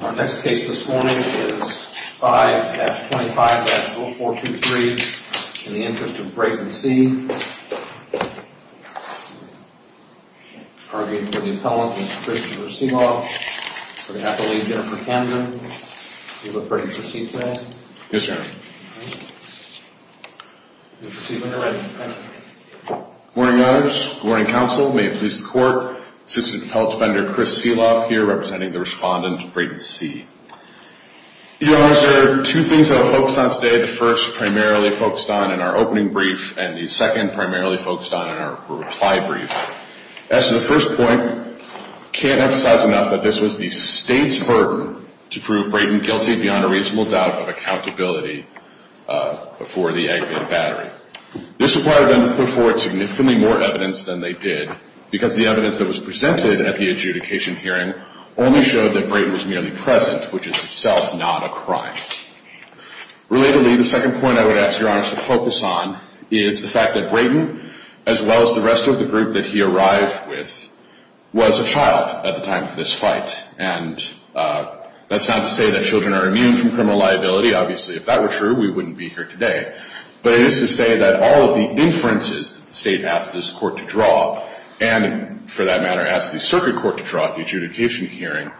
Our next case this morning is 5-25-0423 in the interest of Brayton C. Arguing for the appellant, Mr. Christopher Seeloff. We're going to have to leave Jennifer Camden. You look ready to proceed today? Yes, sir. Proceed when you're ready. Good morning, matters. Good morning, counsel. May it please the court. Assistant Appellant Defender Chris Seeloff here representing the respondent, Brayton C. Your honors, there are two things I will focus on today. The first primarily focused on in our opening brief, and the second primarily focused on in our reply brief. As to the first point, I can't emphasize enough that this was the state's burden to prove Brayton guilty beyond a reasonable doubt of accountability before the aggregate battery. This required them to put forward significantly more evidence than they did because the evidence that was presented at the adjudication hearing only showed that Brayton was merely present, which is itself not a crime. Relatedly, the second point I would ask your honors to focus on is the fact that Brayton, as well as the rest of the group that he arrived with, was a child at the time of this fight. And that's not to say that children are immune from criminal liability. Obviously, if that were true, we wouldn't be here today. But it is to say that all of the inferences that the state asked this court to draw, and for that matter asked the circuit court to draw at the adjudication hearing,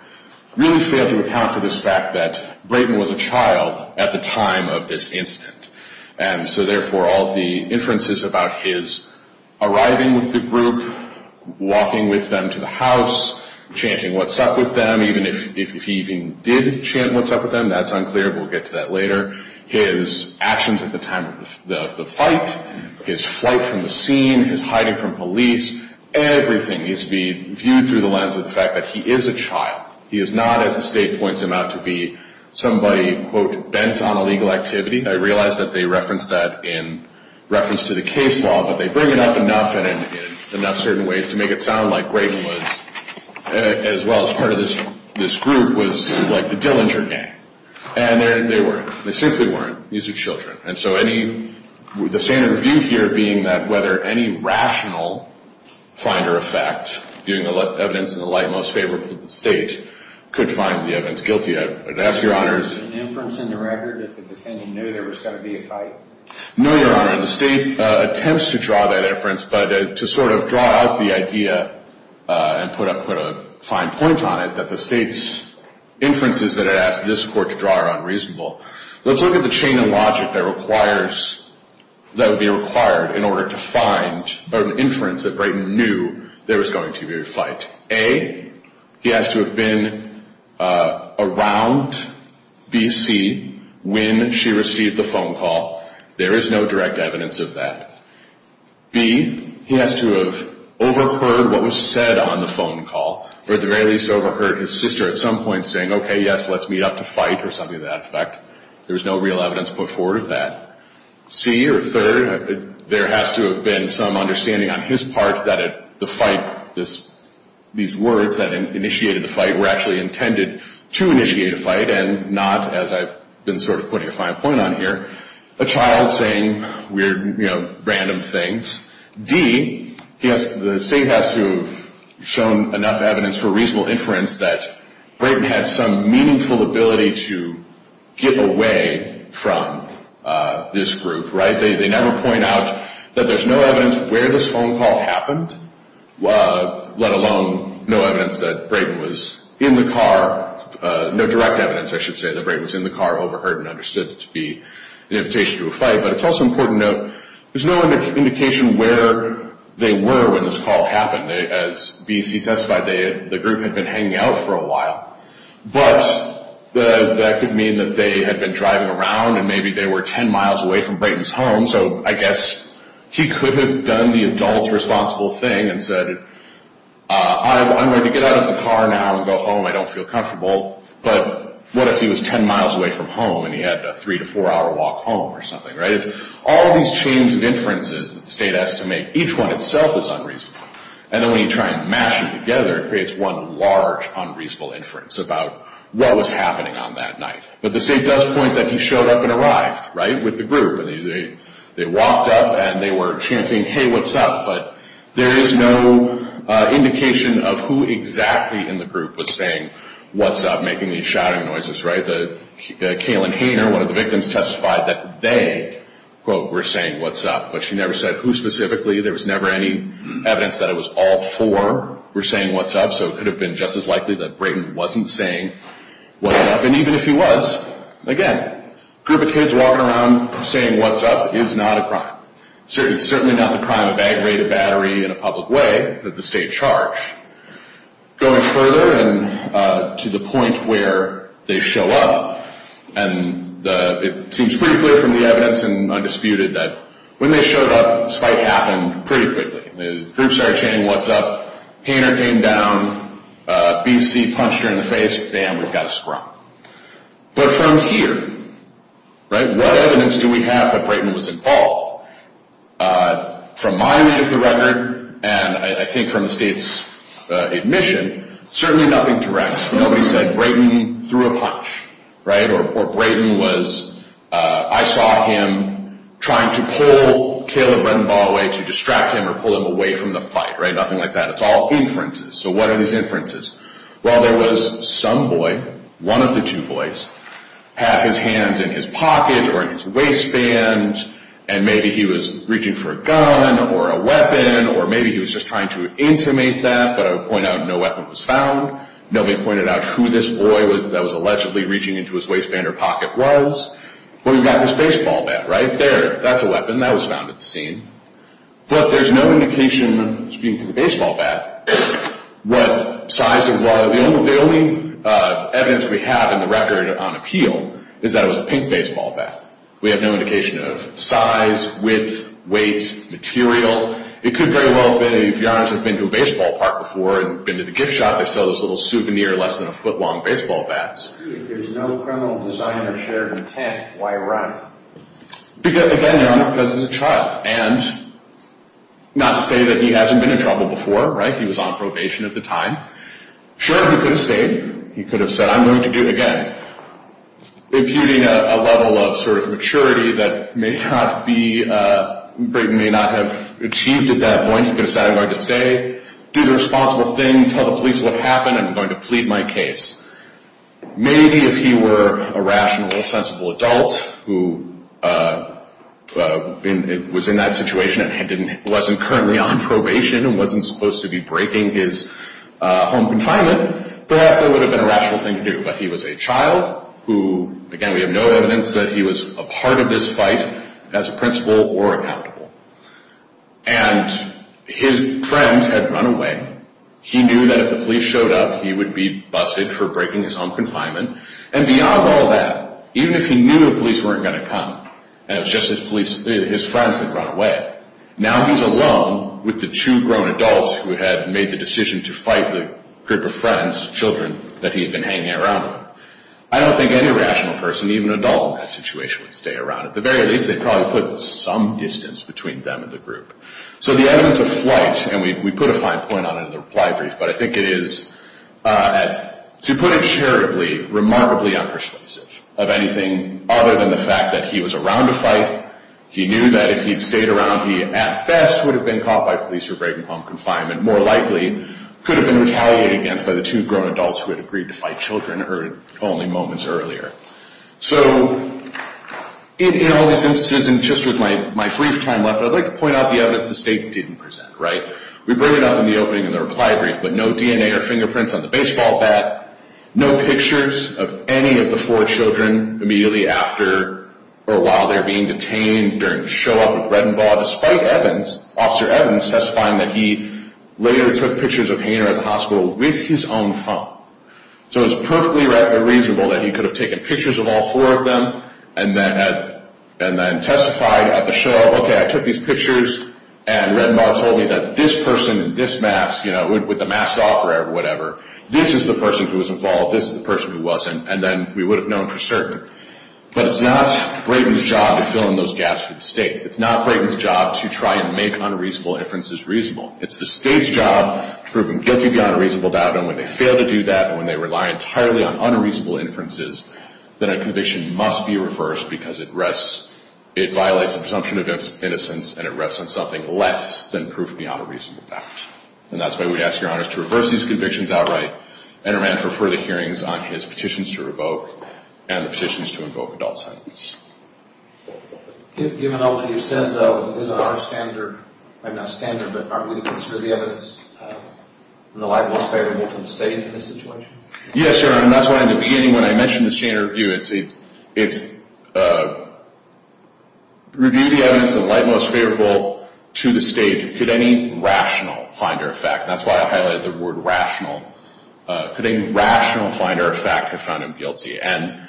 really failed to account for this fact that Brayton was a child at the time of this incident. And so, therefore, all of the inferences about his arriving with the group, walking with them to the house, chanting what's up with them, even if he even did chant what's up with them, that's unclear. We'll get to that later. His actions at the time of the fight, his flight from the scene, his hiding from police, everything needs to be viewed through the lens of the fact that he is a child. He is not, as the state points him out, to be somebody, quote, bent on illegal activity. I realize that they reference that in reference to the case law, but they bring it up enough and in enough certain ways to make it sound like Brayton was, as well as part of this group, was like the Dillinger gang. And they weren't. They simply weren't. These are children. And so the standard view here being that whether any rational finder of fact, viewing the evidence in the light most favorable to the state, could find the evidence guilty. I would ask Your Honors. Was there an inference in the record that the defendant knew there was going to be a fight? No, Your Honor, and the state attempts to draw that inference, but to sort of draw out the idea and put a fine point on it, that the state's inferences that it asks this court to draw are unreasonable. Let's look at the chain of logic that requires, that would be required in order to find an inference that Brayton knew there was going to be a fight. A, he has to have been around B.C. when she received the phone call. There is no direct evidence of that. B, he has to have overheard what was said on the phone call, or at the very least overheard his sister at some point saying, okay, yes, let's meet up to fight or something to that effect. There was no real evidence put forward of that. C, or third, there has to have been some understanding on his part that the fight, these words that initiated the fight were actually intended to initiate a fight and not, as I've been sort of putting a fine point on here, a child saying weird, you know, random things. D, the state has to have shown enough evidence for reasonable inference that Brayton had some meaningful ability to get away from this group, right? They never point out that there's no evidence where this phone call happened, let alone no evidence that Brayton was in the car, no direct evidence, I should say, that Brayton was in the car, overheard and understood it to be an invitation to a fight. But it's also important to note there's no indication where they were when this call happened. As B.C. testified, the group had been hanging out for a while, but that could mean that they had been driving around and maybe they were 10 miles away from Brayton's home, so I guess he could have done the adult responsible thing and said, I'm going to get out of the car now and go home. I don't feel comfortable. But what if he was 10 miles away from home and he had a three to four hour walk home or something, right? If all these chains of inferences that the state has to make, each one itself is unreasonable, and then when you try and mash them together, it creates one large unreasonable inference about what was happening on that night. But the state does point that he showed up and arrived, right, with the group, and they walked up and they were chanting, hey, what's up? But there is no indication of who exactly in the group was saying what's up, making these shouting noises, right? Kaylin Hayner, one of the victims, testified that they, quote, were saying what's up, but she never said who specifically. There was never any evidence that it was all four were saying what's up, so it could have been just as likely that Brayton wasn't saying what's up. And even if he was, again, a group of kids walking around saying what's up is not a crime. It's certainly not the crime of aggravated battery in a public way that the state charged. Going further and to the point where they show up, and it seems pretty clear from the evidence and undisputed that when they showed up, the spike happened pretty quickly. The group started chanting what's up, Hayner came down, B.C. punched her in the face, bam, we've got a sprung. But from here, right, what evidence do we have that Brayton was involved? From my end of the record, and I think from the state's admission, certainly nothing direct. Nobody said Brayton threw a punch, right? Or Brayton was, I saw him trying to pull Kayla Brennbaugh away to distract him or pull him away from the fight, right? Nothing like that. It's all inferences. So what are these inferences? Well, there was some boy, one of the two boys, had his hands in his pocket or in his waistband and maybe he was reaching for a gun or a weapon or maybe he was just trying to intimate that, but I would point out no weapon was found. Nobody pointed out who this boy that was allegedly reaching into his waistband or pocket was. But we've got this baseball bat right there. That's a weapon. That was found at the scene. But there's no indication, speaking to the baseball bat, what size it was. The only evidence we have in the record on appeal is that it was a pink baseball bat. We have no indication of size, width, weight, material. It could very well have been, if you're honest, have been to a baseball park before and been to the gift shop, they sell those little souvenir less than a foot long baseball bats. If there's no criminal design or shared intent, why run? Again, Your Honor, because it's a child. And not to say that he hasn't been in trouble before, right? He was on probation at the time. Sure, he could have stayed. He could have said, I'm going to do it again. Imputing a level of sort of maturity that may not have achieved at that point, he could have said, I'm going to stay, do the responsible thing, tell the police what happened, and I'm going to plead my case. Maybe if he were a rational, sensible adult who was in that situation and wasn't currently on probation and wasn't supposed to be breaking his home confinement, perhaps that would have been a rational thing to do. But he was a child who, again, we have no evidence that he was a part of this fight, as a principal or accountable. And his friends had run away. He knew that if the police showed up, he would be busted for breaking his home confinement. And beyond all that, even if he knew the police weren't going to come, and it was just his friends that had run away, now he's alone with the two grown adults who had made the decision to fight the group of friends, children that he had been hanging around with. I don't think any rational person, even an adult in that situation, would stay around. At the very least, they'd probably put some distance between them and the group. So the evidence of flight, and we put a fine point on it in the reply brief, but I think it is, to put it charitably, remarkably unpersuasive of anything other than the fact that he was around to fight. He knew that if he'd stayed around, he at best would have been caught by police for breaking home confinement, more likely could have been retaliated against by the two grown adults who had agreed to fight children only moments earlier. So, in all these instances, and just with my brief time left, I'd like to point out the evidence the state didn't present, right? We bring it up in the opening of the reply brief, but no DNA or fingerprints on the baseball bat, no pictures of any of the four children immediately after or while they were being detained during the show up at Reddenball, despite Evans, Officer Evans testifying that he later took pictures of Hayner at the hospital with his own phone. So it's perfectly reasonable that he could have taken pictures of all four of them and then testified at the show up, okay, I took these pictures and Reddenball told me that this person in this mask, you know, with the mask off or whatever, this is the person who was involved, this is the person who wasn't, and then we would have known for certain. But it's not Brayden's job to fill in those gaps for the state. It's not Brayden's job to try and make unreasonable inferences reasonable. It's the state's job to prove him guilty beyond a reasonable doubt, and when they fail to do that and when they rely entirely on unreasonable inferences, then a conviction must be reversed because it rests, it violates the presumption of innocence and it rests on something less than proof beyond a reasonable doubt. And that's why we ask your honors to reverse these convictions outright and amend for further hearings on his petitions to revoke and the petitions to invoke adult sentences. Given all that you've said, though, is it our standard, I mean not standard, but are we to consider the evidence in the light most favorable to the state in this situation? Yes, Your Honor, and that's why in the beginning when I mentioned the standard review, it's review the evidence in the light most favorable to the state. Could any rational finder of fact, and that's why I highlighted the word rational, could any rational finder of fact have found him guilty? And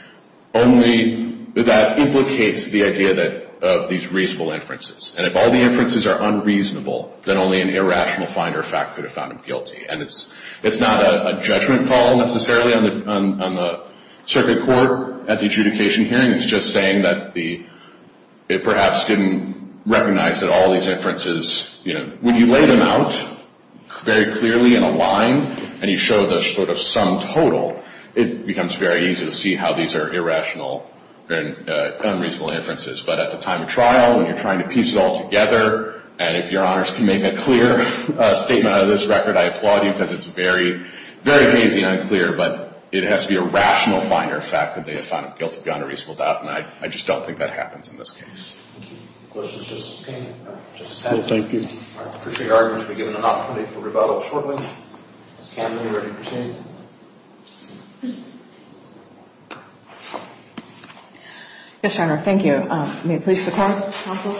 only that implicates the idea of these reasonable inferences. And if all the inferences are unreasonable, then only an irrational finder of fact could have found him guilty. And it's not a judgment call necessarily on the circuit court at the adjudication hearing. It's just saying that it perhaps didn't recognize that all these inferences, you know, when you lay them out very clearly in a line and you show the sort of sum total, it becomes very easy to see how these are irrational and unreasonable inferences. But at the time of trial, when you're trying to piece it all together, and if Your Honors can make a clear statement out of this record, I applaud you, because it's very, very hazy and unclear, but it has to be a rational finder of fact that they have found him guilty beyond a reasonable doubt, and I just don't think that happens in this case. Thank you. Questions for Justice Kagan? Justice Kagan? No, thank you. I appreciate our argument to be given an opportunity for rebuttal shortly. Ms. Camden, you're ready to proceed. Yes, Your Honor. Thank you. May it please the Court, counsel?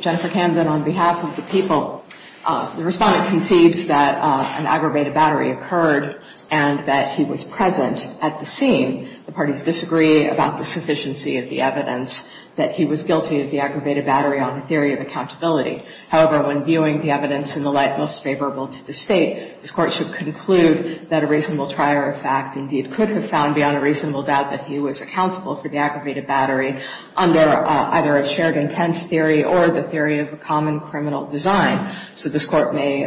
Jennifer Camden on behalf of the people. The Respondent concedes that an aggravated battery occurred and that he was present at the scene. The parties disagree about the sufficiency of the evidence that he was guilty of the aggravated battery on the theory of accountability. However, when viewing the evidence in the light most favorable to the State, this Court should conclude that a reasonable trier of fact indeed could have found beyond a reasonable doubt that he was accountable for the aggravated battery under either a shared intent theory or the theory of a common criminal design. So this Court may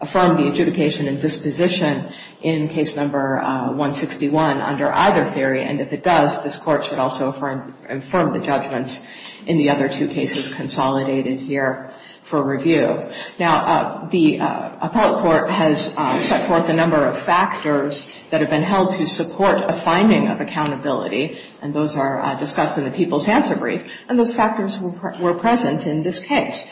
affirm the adjudication and disposition in Case No. 161 under either theory, and if it does, this Court should also affirm the judgments in the other two cases consolidated here for review. Now, the Appellate Court has set forth a number of factors that have been held to support a finding of accountability, and those are discussed in the People's Answer Brief, and those factors were present in this case.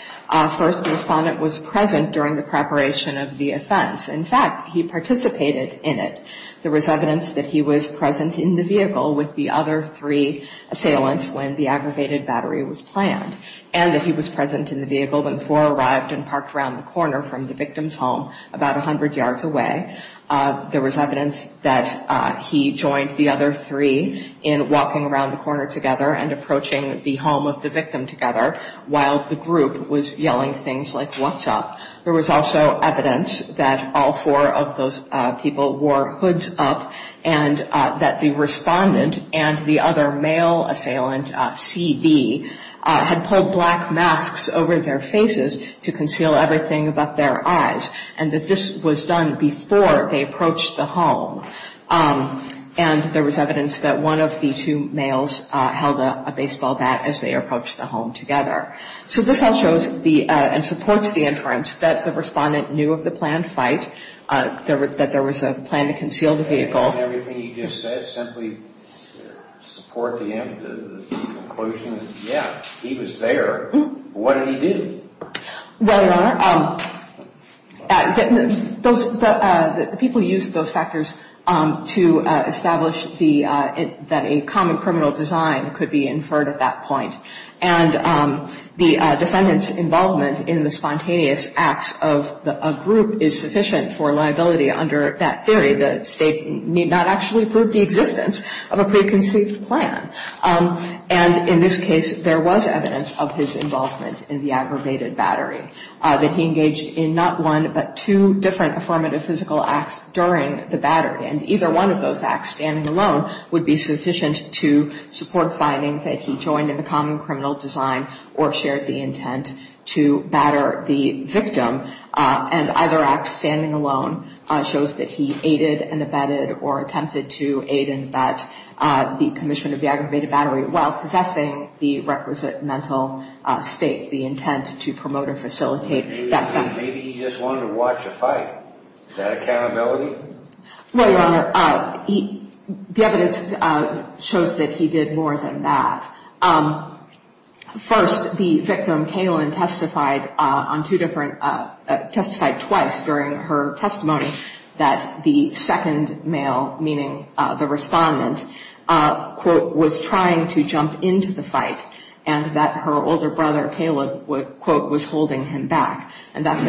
First, the Respondent was present during the preparation of the offense. In fact, he participated in it. There was evidence that he was present in the vehicle with the other three assailants when the aggravated battery was planned, and that he was present in the vehicle when four arrived and parked around the corner from the victim's home about 100 yards away. There was evidence that he joined the other three in walking around the corner together and approaching the home of the victim together while the group was yelling things like, There was also evidence that all four of those people wore hoods up and that the Respondent and the other male assailant, C.B., had pulled black masks over their faces to conceal everything but their eyes, and that this was done before they approached the home. And there was evidence that one of the two males held a baseball bat as they approached the home together. So this all shows and supports the inference that the Respondent knew of the planned fight, that there was a plan to conceal the vehicle. And all of everything he just said simply supports the conclusion that, yeah, he was there. What did he do? Well, Your Honor, the people used those factors to establish that a common criminal design could be inferred at that point. And the Defendant's involvement in the spontaneous acts of a group is sufficient for liability under that theory. The State need not actually prove the existence of a preconceived plan. And in this case, there was evidence of his involvement in the aggravated battery, that he engaged in not one but two different affirmative physical acts during the battery. And either one of those acts, standing alone, would be sufficient to support finding that he joined in the common criminal design or shared the intent to batter the victim. And either act, standing alone, shows that he aided and abetted or attempted to aid and abet the commission of the aggravated battery while possessing the requisite mental state, the intent to promote or facilitate that fact. Maybe he just wanted to watch a fight. Is that accountability? Well, Your Honor, the evidence shows that he did more than that. First, the victim, Kaylin, testified twice during her testimony that the second male, meaning the Respondent, quote, was trying to jump into the fight and that her older brother, Caleb, quote, was holding him back. And that's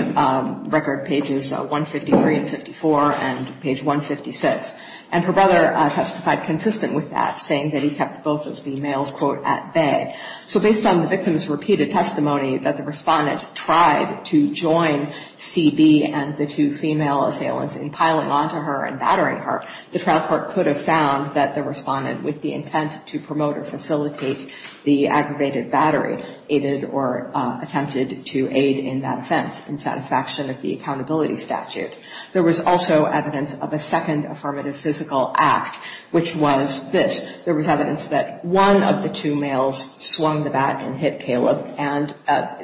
record pages 153 and 54 and page 156. And her brother testified consistent with that, saying that he kept both of the males, quote, at bay. So based on the victim's repeated testimony that the Respondent tried to join CB and the two female assailants in piling onto her and battering her, the trial court could have found that the Respondent, with the intent to promote or facilitate the aggravated battery, quote, aided or attempted to aid in that offense in satisfaction of the accountability statute. There was also evidence of a second affirmative physical act, which was this. There was evidence that one of the two males swung the bat and hit Caleb, and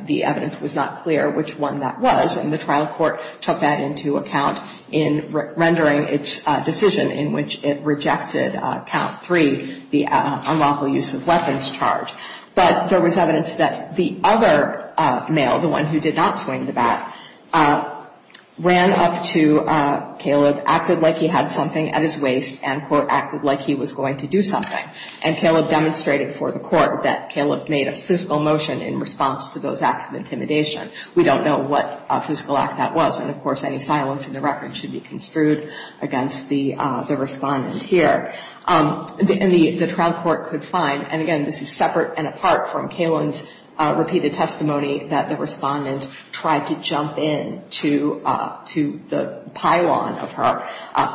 the evidence was not clear which one that was. And the trial court took that into account in rendering its decision in which it rejected count three, the unlawful use of weapons charge. But there was evidence that the other male, the one who did not swing the bat, ran up to Caleb, acted like he had something at his waist, and, quote, acted like he was going to do something. And Caleb demonstrated for the Court that Caleb made a physical motion in response to those acts of intimidation. We don't know what physical act that was. And, of course, any silence in the record should be construed against the Respondent here. And the trial court could find, and, again, this is separate and apart from Kalen's repeated testimony that the Respondent tried to jump into the pylon of her.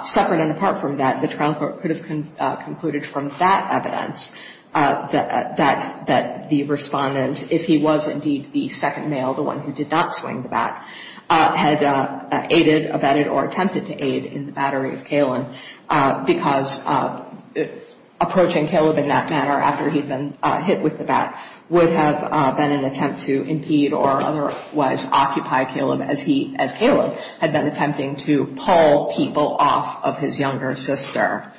Separate and apart from that, the trial court could have concluded from that evidence that the Respondent, if he was indeed the second male, the one who did not swing the bat, had aided, abetted, or attempted to aid in the battery of Kalen because approaching Caleb in that manner after he'd been hit with the bat would have been an attempt to impede or otherwise occupy Caleb as he, as Kalen, had been attempting to pull people off of his younger sister.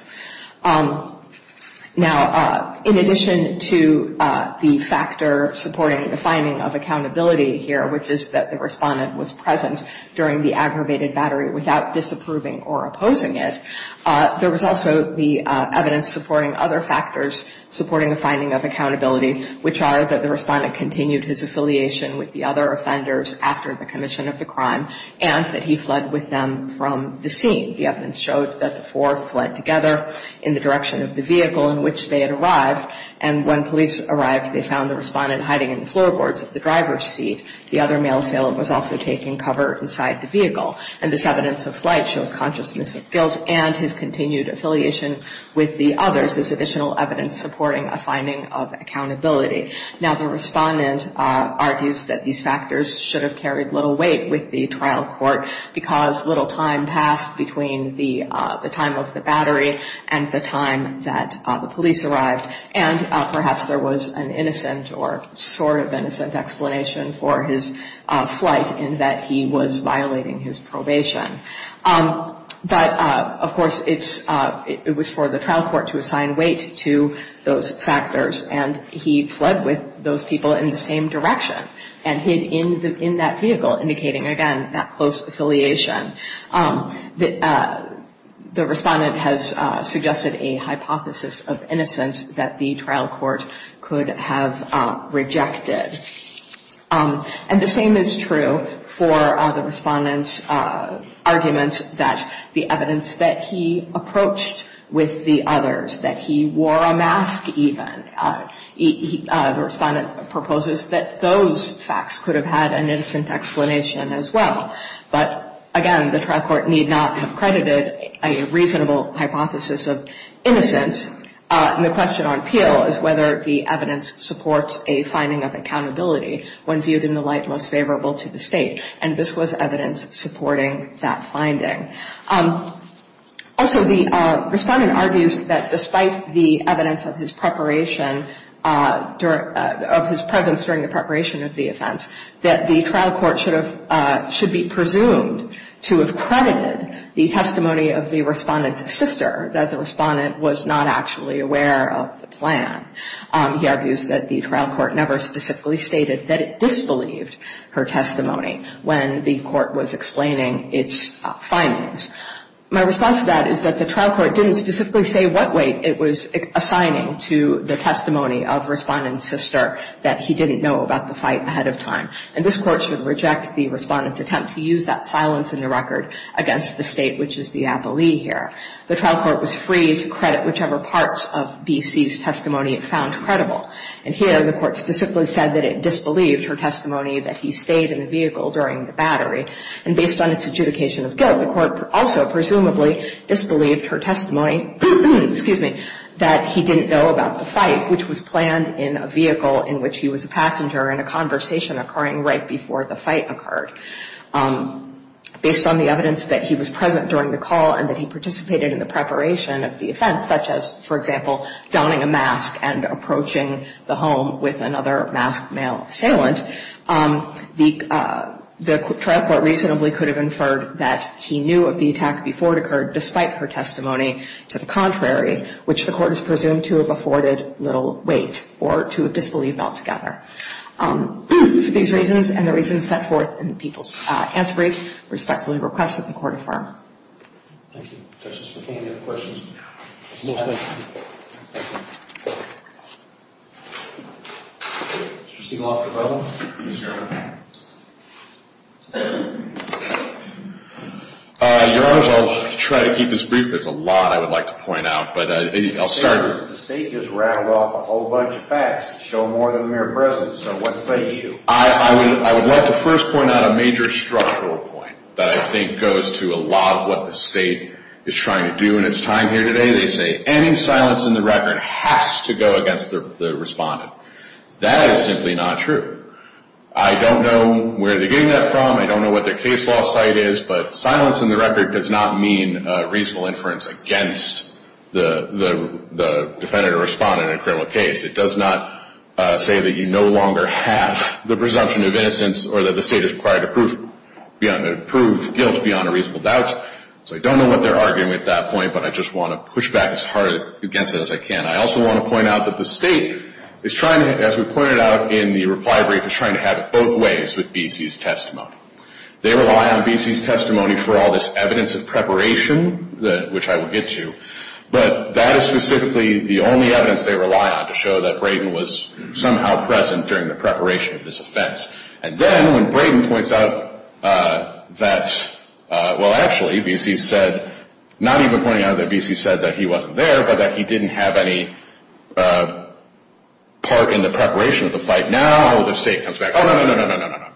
Now, in addition to the factor supporting the finding of accountability here, which is that the Respondent was present during the aggravated battery without disapproving or opposing it, there was also the evidence supporting other factors supporting the finding of accountability, which are that the Respondent continued his affiliation with the other offenders after the commission of the crime and that he fled with them from the scene. The evidence showed that the four fled together in the direction of the vehicle in which they had arrived, and when police arrived, they found the Respondent hiding in the floorboards of the driver's seat. The other male assailant was also taking cover inside the vehicle. And this evidence of flight shows consciousness of guilt and his continued affiliation with the others, this additional evidence supporting a finding of accountability. Now, the Respondent argues that these factors should have carried little weight with the trial court because little time passed between the time of the battery and the time that the police arrived, and perhaps there was an innocent or sort of innocent explanation for his flight in that he was violating his probation. But, of course, it was for the trial court to assign weight to those factors, and he fled with those people in the same direction and hid in that vehicle, indicating, again, that close affiliation. The Respondent has suggested a hypothesis of innocence that the trial court could have rejected. And the same is true for the Respondent's arguments that the evidence that he approached with the others, that he wore a mask even, the Respondent proposes that those facts could have had an innocent explanation as well. But, again, the trial court need not have credited a reasonable hypothesis of innocence, and the question on appeal is whether the evidence supports a finding of accountability when viewed in the light most favorable to the State, and this was evidence supporting that finding. Also, the Respondent argues that despite the evidence of his preparation, of his presence during the preparation of the offense, that the trial court should be presumed to have credited the testimony of the Respondent's sister that the Respondent was not actually aware of the plan. He argues that the trial court never specifically stated that it disbelieved her testimony when the court was explaining its findings. My response to that is that the trial court didn't specifically say what weight it was assigning to the testimony of Respondent's sister that he didn't know about the fight ahead of time, and this court should reject the Respondent's attempt to use that silence in the record against the State, which is the appellee here. The trial court was free to credit whichever parts of B.C.'s testimony it found credible, and here the court specifically said that it disbelieved her testimony that he stayed in the vehicle during the battery, and based on its adjudication of guilt, the court also presumably disbelieved her testimony that he didn't know about the fight, which was planned in a vehicle in which he was a passenger in a conversation occurring right before the fight occurred. Based on the evidence that he was present during the call and that he participated in the preparation of the offense, such as, for example, donning a mask and approaching the home with another masked male assailant, the trial court reasonably could have inferred that he knew of the attack before it occurred, despite her testimony to the contrary, which the court is presumed to have afforded little weight or to have disbelieved altogether. For these reasons and the reasons set forth in the People's Answer Brief, I respectfully request that the court affirm. Thank you. Justice McCain, any other questions? No. Thank you. Mr. Stegall, after you. Yes, Your Honor. Your Honors, I'll try to keep this brief. There's a lot I would like to point out, but I'll start... The state just rattled off a whole bunch of facts that show more than mere presence, so what say you? I would like to first point out a major structural point that I think goes to a lot of what the state is trying to do in its time here today. They say any silence in the record has to go against the respondent. That is simply not true. I don't know where they're getting that from. I don't know what their case law site is, but silence in the record does not mean reasonable inference against the defendant or respondent in a criminal case. It does not say that you no longer have the presumption of innocence or that the state is required to prove guilt beyond a reasonable doubt. So I don't know what they're arguing at that point, but I just want to push back as hard against it as I can. I also want to point out that the state is trying to, as we pointed out in the reply brief, is trying to have it both ways with BC's testimony. They rely on BC's testimony for all this evidence of preparation, which I will get to, but that is specifically the only evidence they rely on to show that Brayden was somehow present during the preparation of this offense. And then when Brayden points out that, well, actually, BC said, not even pointing out that BC said that he wasn't there, but that he didn't have any part in the preparation of the fight, now the state comes back. Oh, no, no, no, no, no, no, no.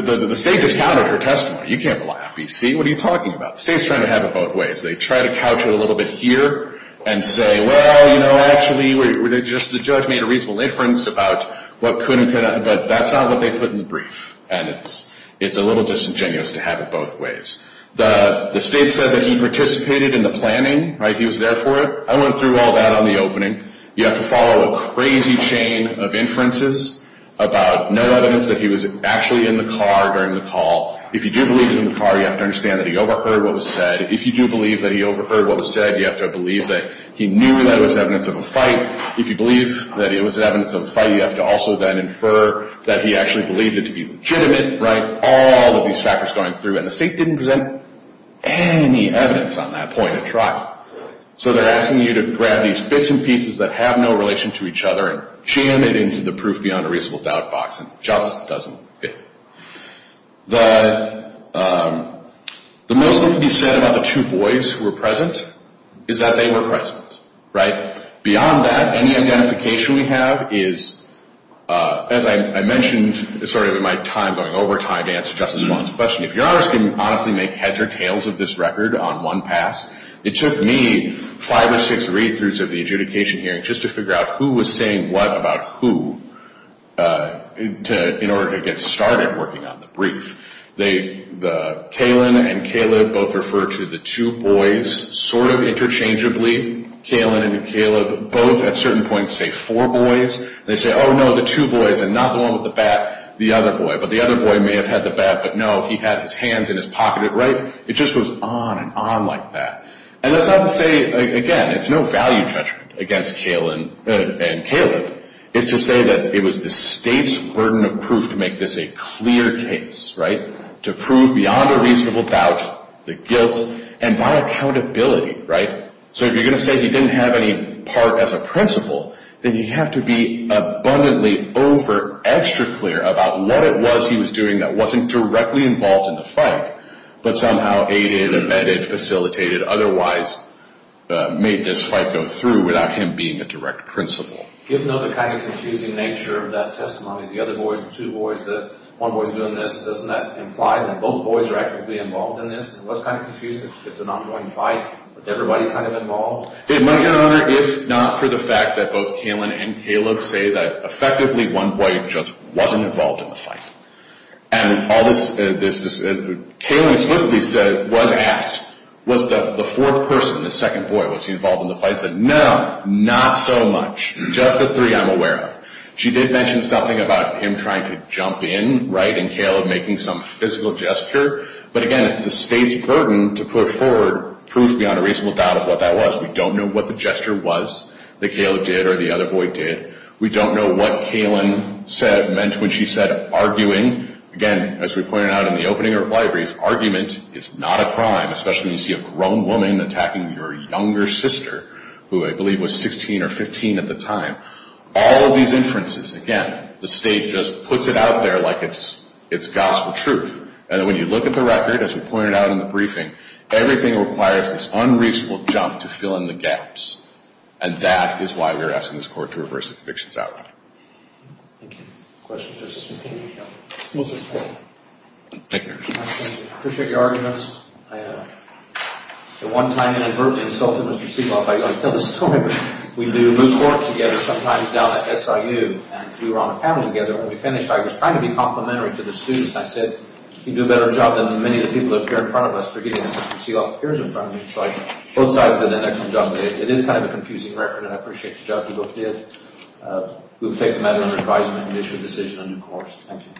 The state discounted her testimony. You can't rely on BC. What are you talking about? The state's trying to have it both ways. They try to couch it a little bit here and say, well, you know, actually, just the judge made a reasonable inference about what could and could not, but that's not what they put in the brief, and it's a little disingenuous to have it both ways. The state said that he participated in the planning. He was there for it. I went through all that on the opening. You have to follow a crazy chain of inferences about no evidence that he was actually in the car during the call. If you do believe he was in the car, you have to understand that he overheard what was said. If you do believe that he overheard what was said, you have to believe that he knew that it was evidence of a fight. If you believe that it was evidence of a fight, you have to also then infer that he actually believed it to be legitimate, right? All of these factors going through, and the state didn't present any evidence on that point of trial. So they're asking you to grab these bits and pieces that have no relation to each other and jam it into the proof beyond a reasonable doubt box, and it just doesn't fit. The most that can be said about the two boys who were present is that they were present, right? Beyond that, any identification we have is, as I mentioned, sorry, I'm going over time to answer Justice Wong's question. If your honors can honestly make heads or tails of this record on one pass, it took me five or six read-throughs of the adjudication hearing just to figure out who was saying what about who in order to get started working on the brief. Kaylin and Caleb both refer to the two boys sort of interchangeably. Kaylin and Caleb both at certain points say four boys. They say, oh, no, the two boys and not the one with the bat, the other boy. But the other boy may have had the bat, but no, he had his hands in his pocket, right? It just goes on and on like that. And that's not to say, again, it's no value judgment against Kaylin and Caleb. It's to say that it was the state's burden of proof to make this a clear case, right? To prove beyond a reasonable doubt the guilt and by accountability, right? So if you're going to say he didn't have any part as a principal, then you have to be abundantly over extra clear about what it was he was doing that wasn't directly involved in the fight, but somehow aided, amended, facilitated, otherwise made this fight go through without him being a direct principal. Given the kind of confusing nature of that testimony, the other boys, the two boys, the one boy's doing this, doesn't that imply that both boys are actively involved in this? That's kind of confusing. It's an ongoing fight with everybody kind of involved? Your Honor, if not for the fact that both Kaylin and Caleb say that effectively one boy just wasn't involved in the fight and all this, Kaylin explicitly said, was asked, was the fourth person, the second boy, was he involved in the fight? Kaylin said, no, not so much. Just the three I'm aware of. She did mention something about him trying to jump in, right? And Caleb making some physical gesture. But again, it's the State's burden to put forward proof beyond a reasonable doubt of what that was. We don't know what the gesture was that Caleb did or the other boy did. We don't know what Kaylin said, meant when she said, arguing. Again, as we pointed out in the opening of the library, argument is not a crime, especially when you see a grown woman attacking your younger sister, who I believe was 16 or 15 at the time. All of these inferences, again, the State just puts it out there like it's gospel truth. And when you look at the record, as we pointed out in the briefing, everything requires this unreasonable jump to fill in the gaps. And that is why we are asking this Court to reverse the conviction's outcome. Thank you. Questions, Justice McHale? We'll take four. Thank you, Your Honor. I appreciate your arguments. I, at one time, inadvertently insulted Mr. Seehoff by going, tell the story. We do moot court together sometimes down at SIU. And we were on a panel together. When we finished, I was trying to be complimentary to the students. I said, you do a better job than many of the people that appear in front of us. They're getting it. Mr. Seehoff appears in front of me. So both sides did an excellent job today. It is kind of a confusing record, and I appreciate the job you both did. We'll take the matter under advisement and issue a decision on a new course. Thank you.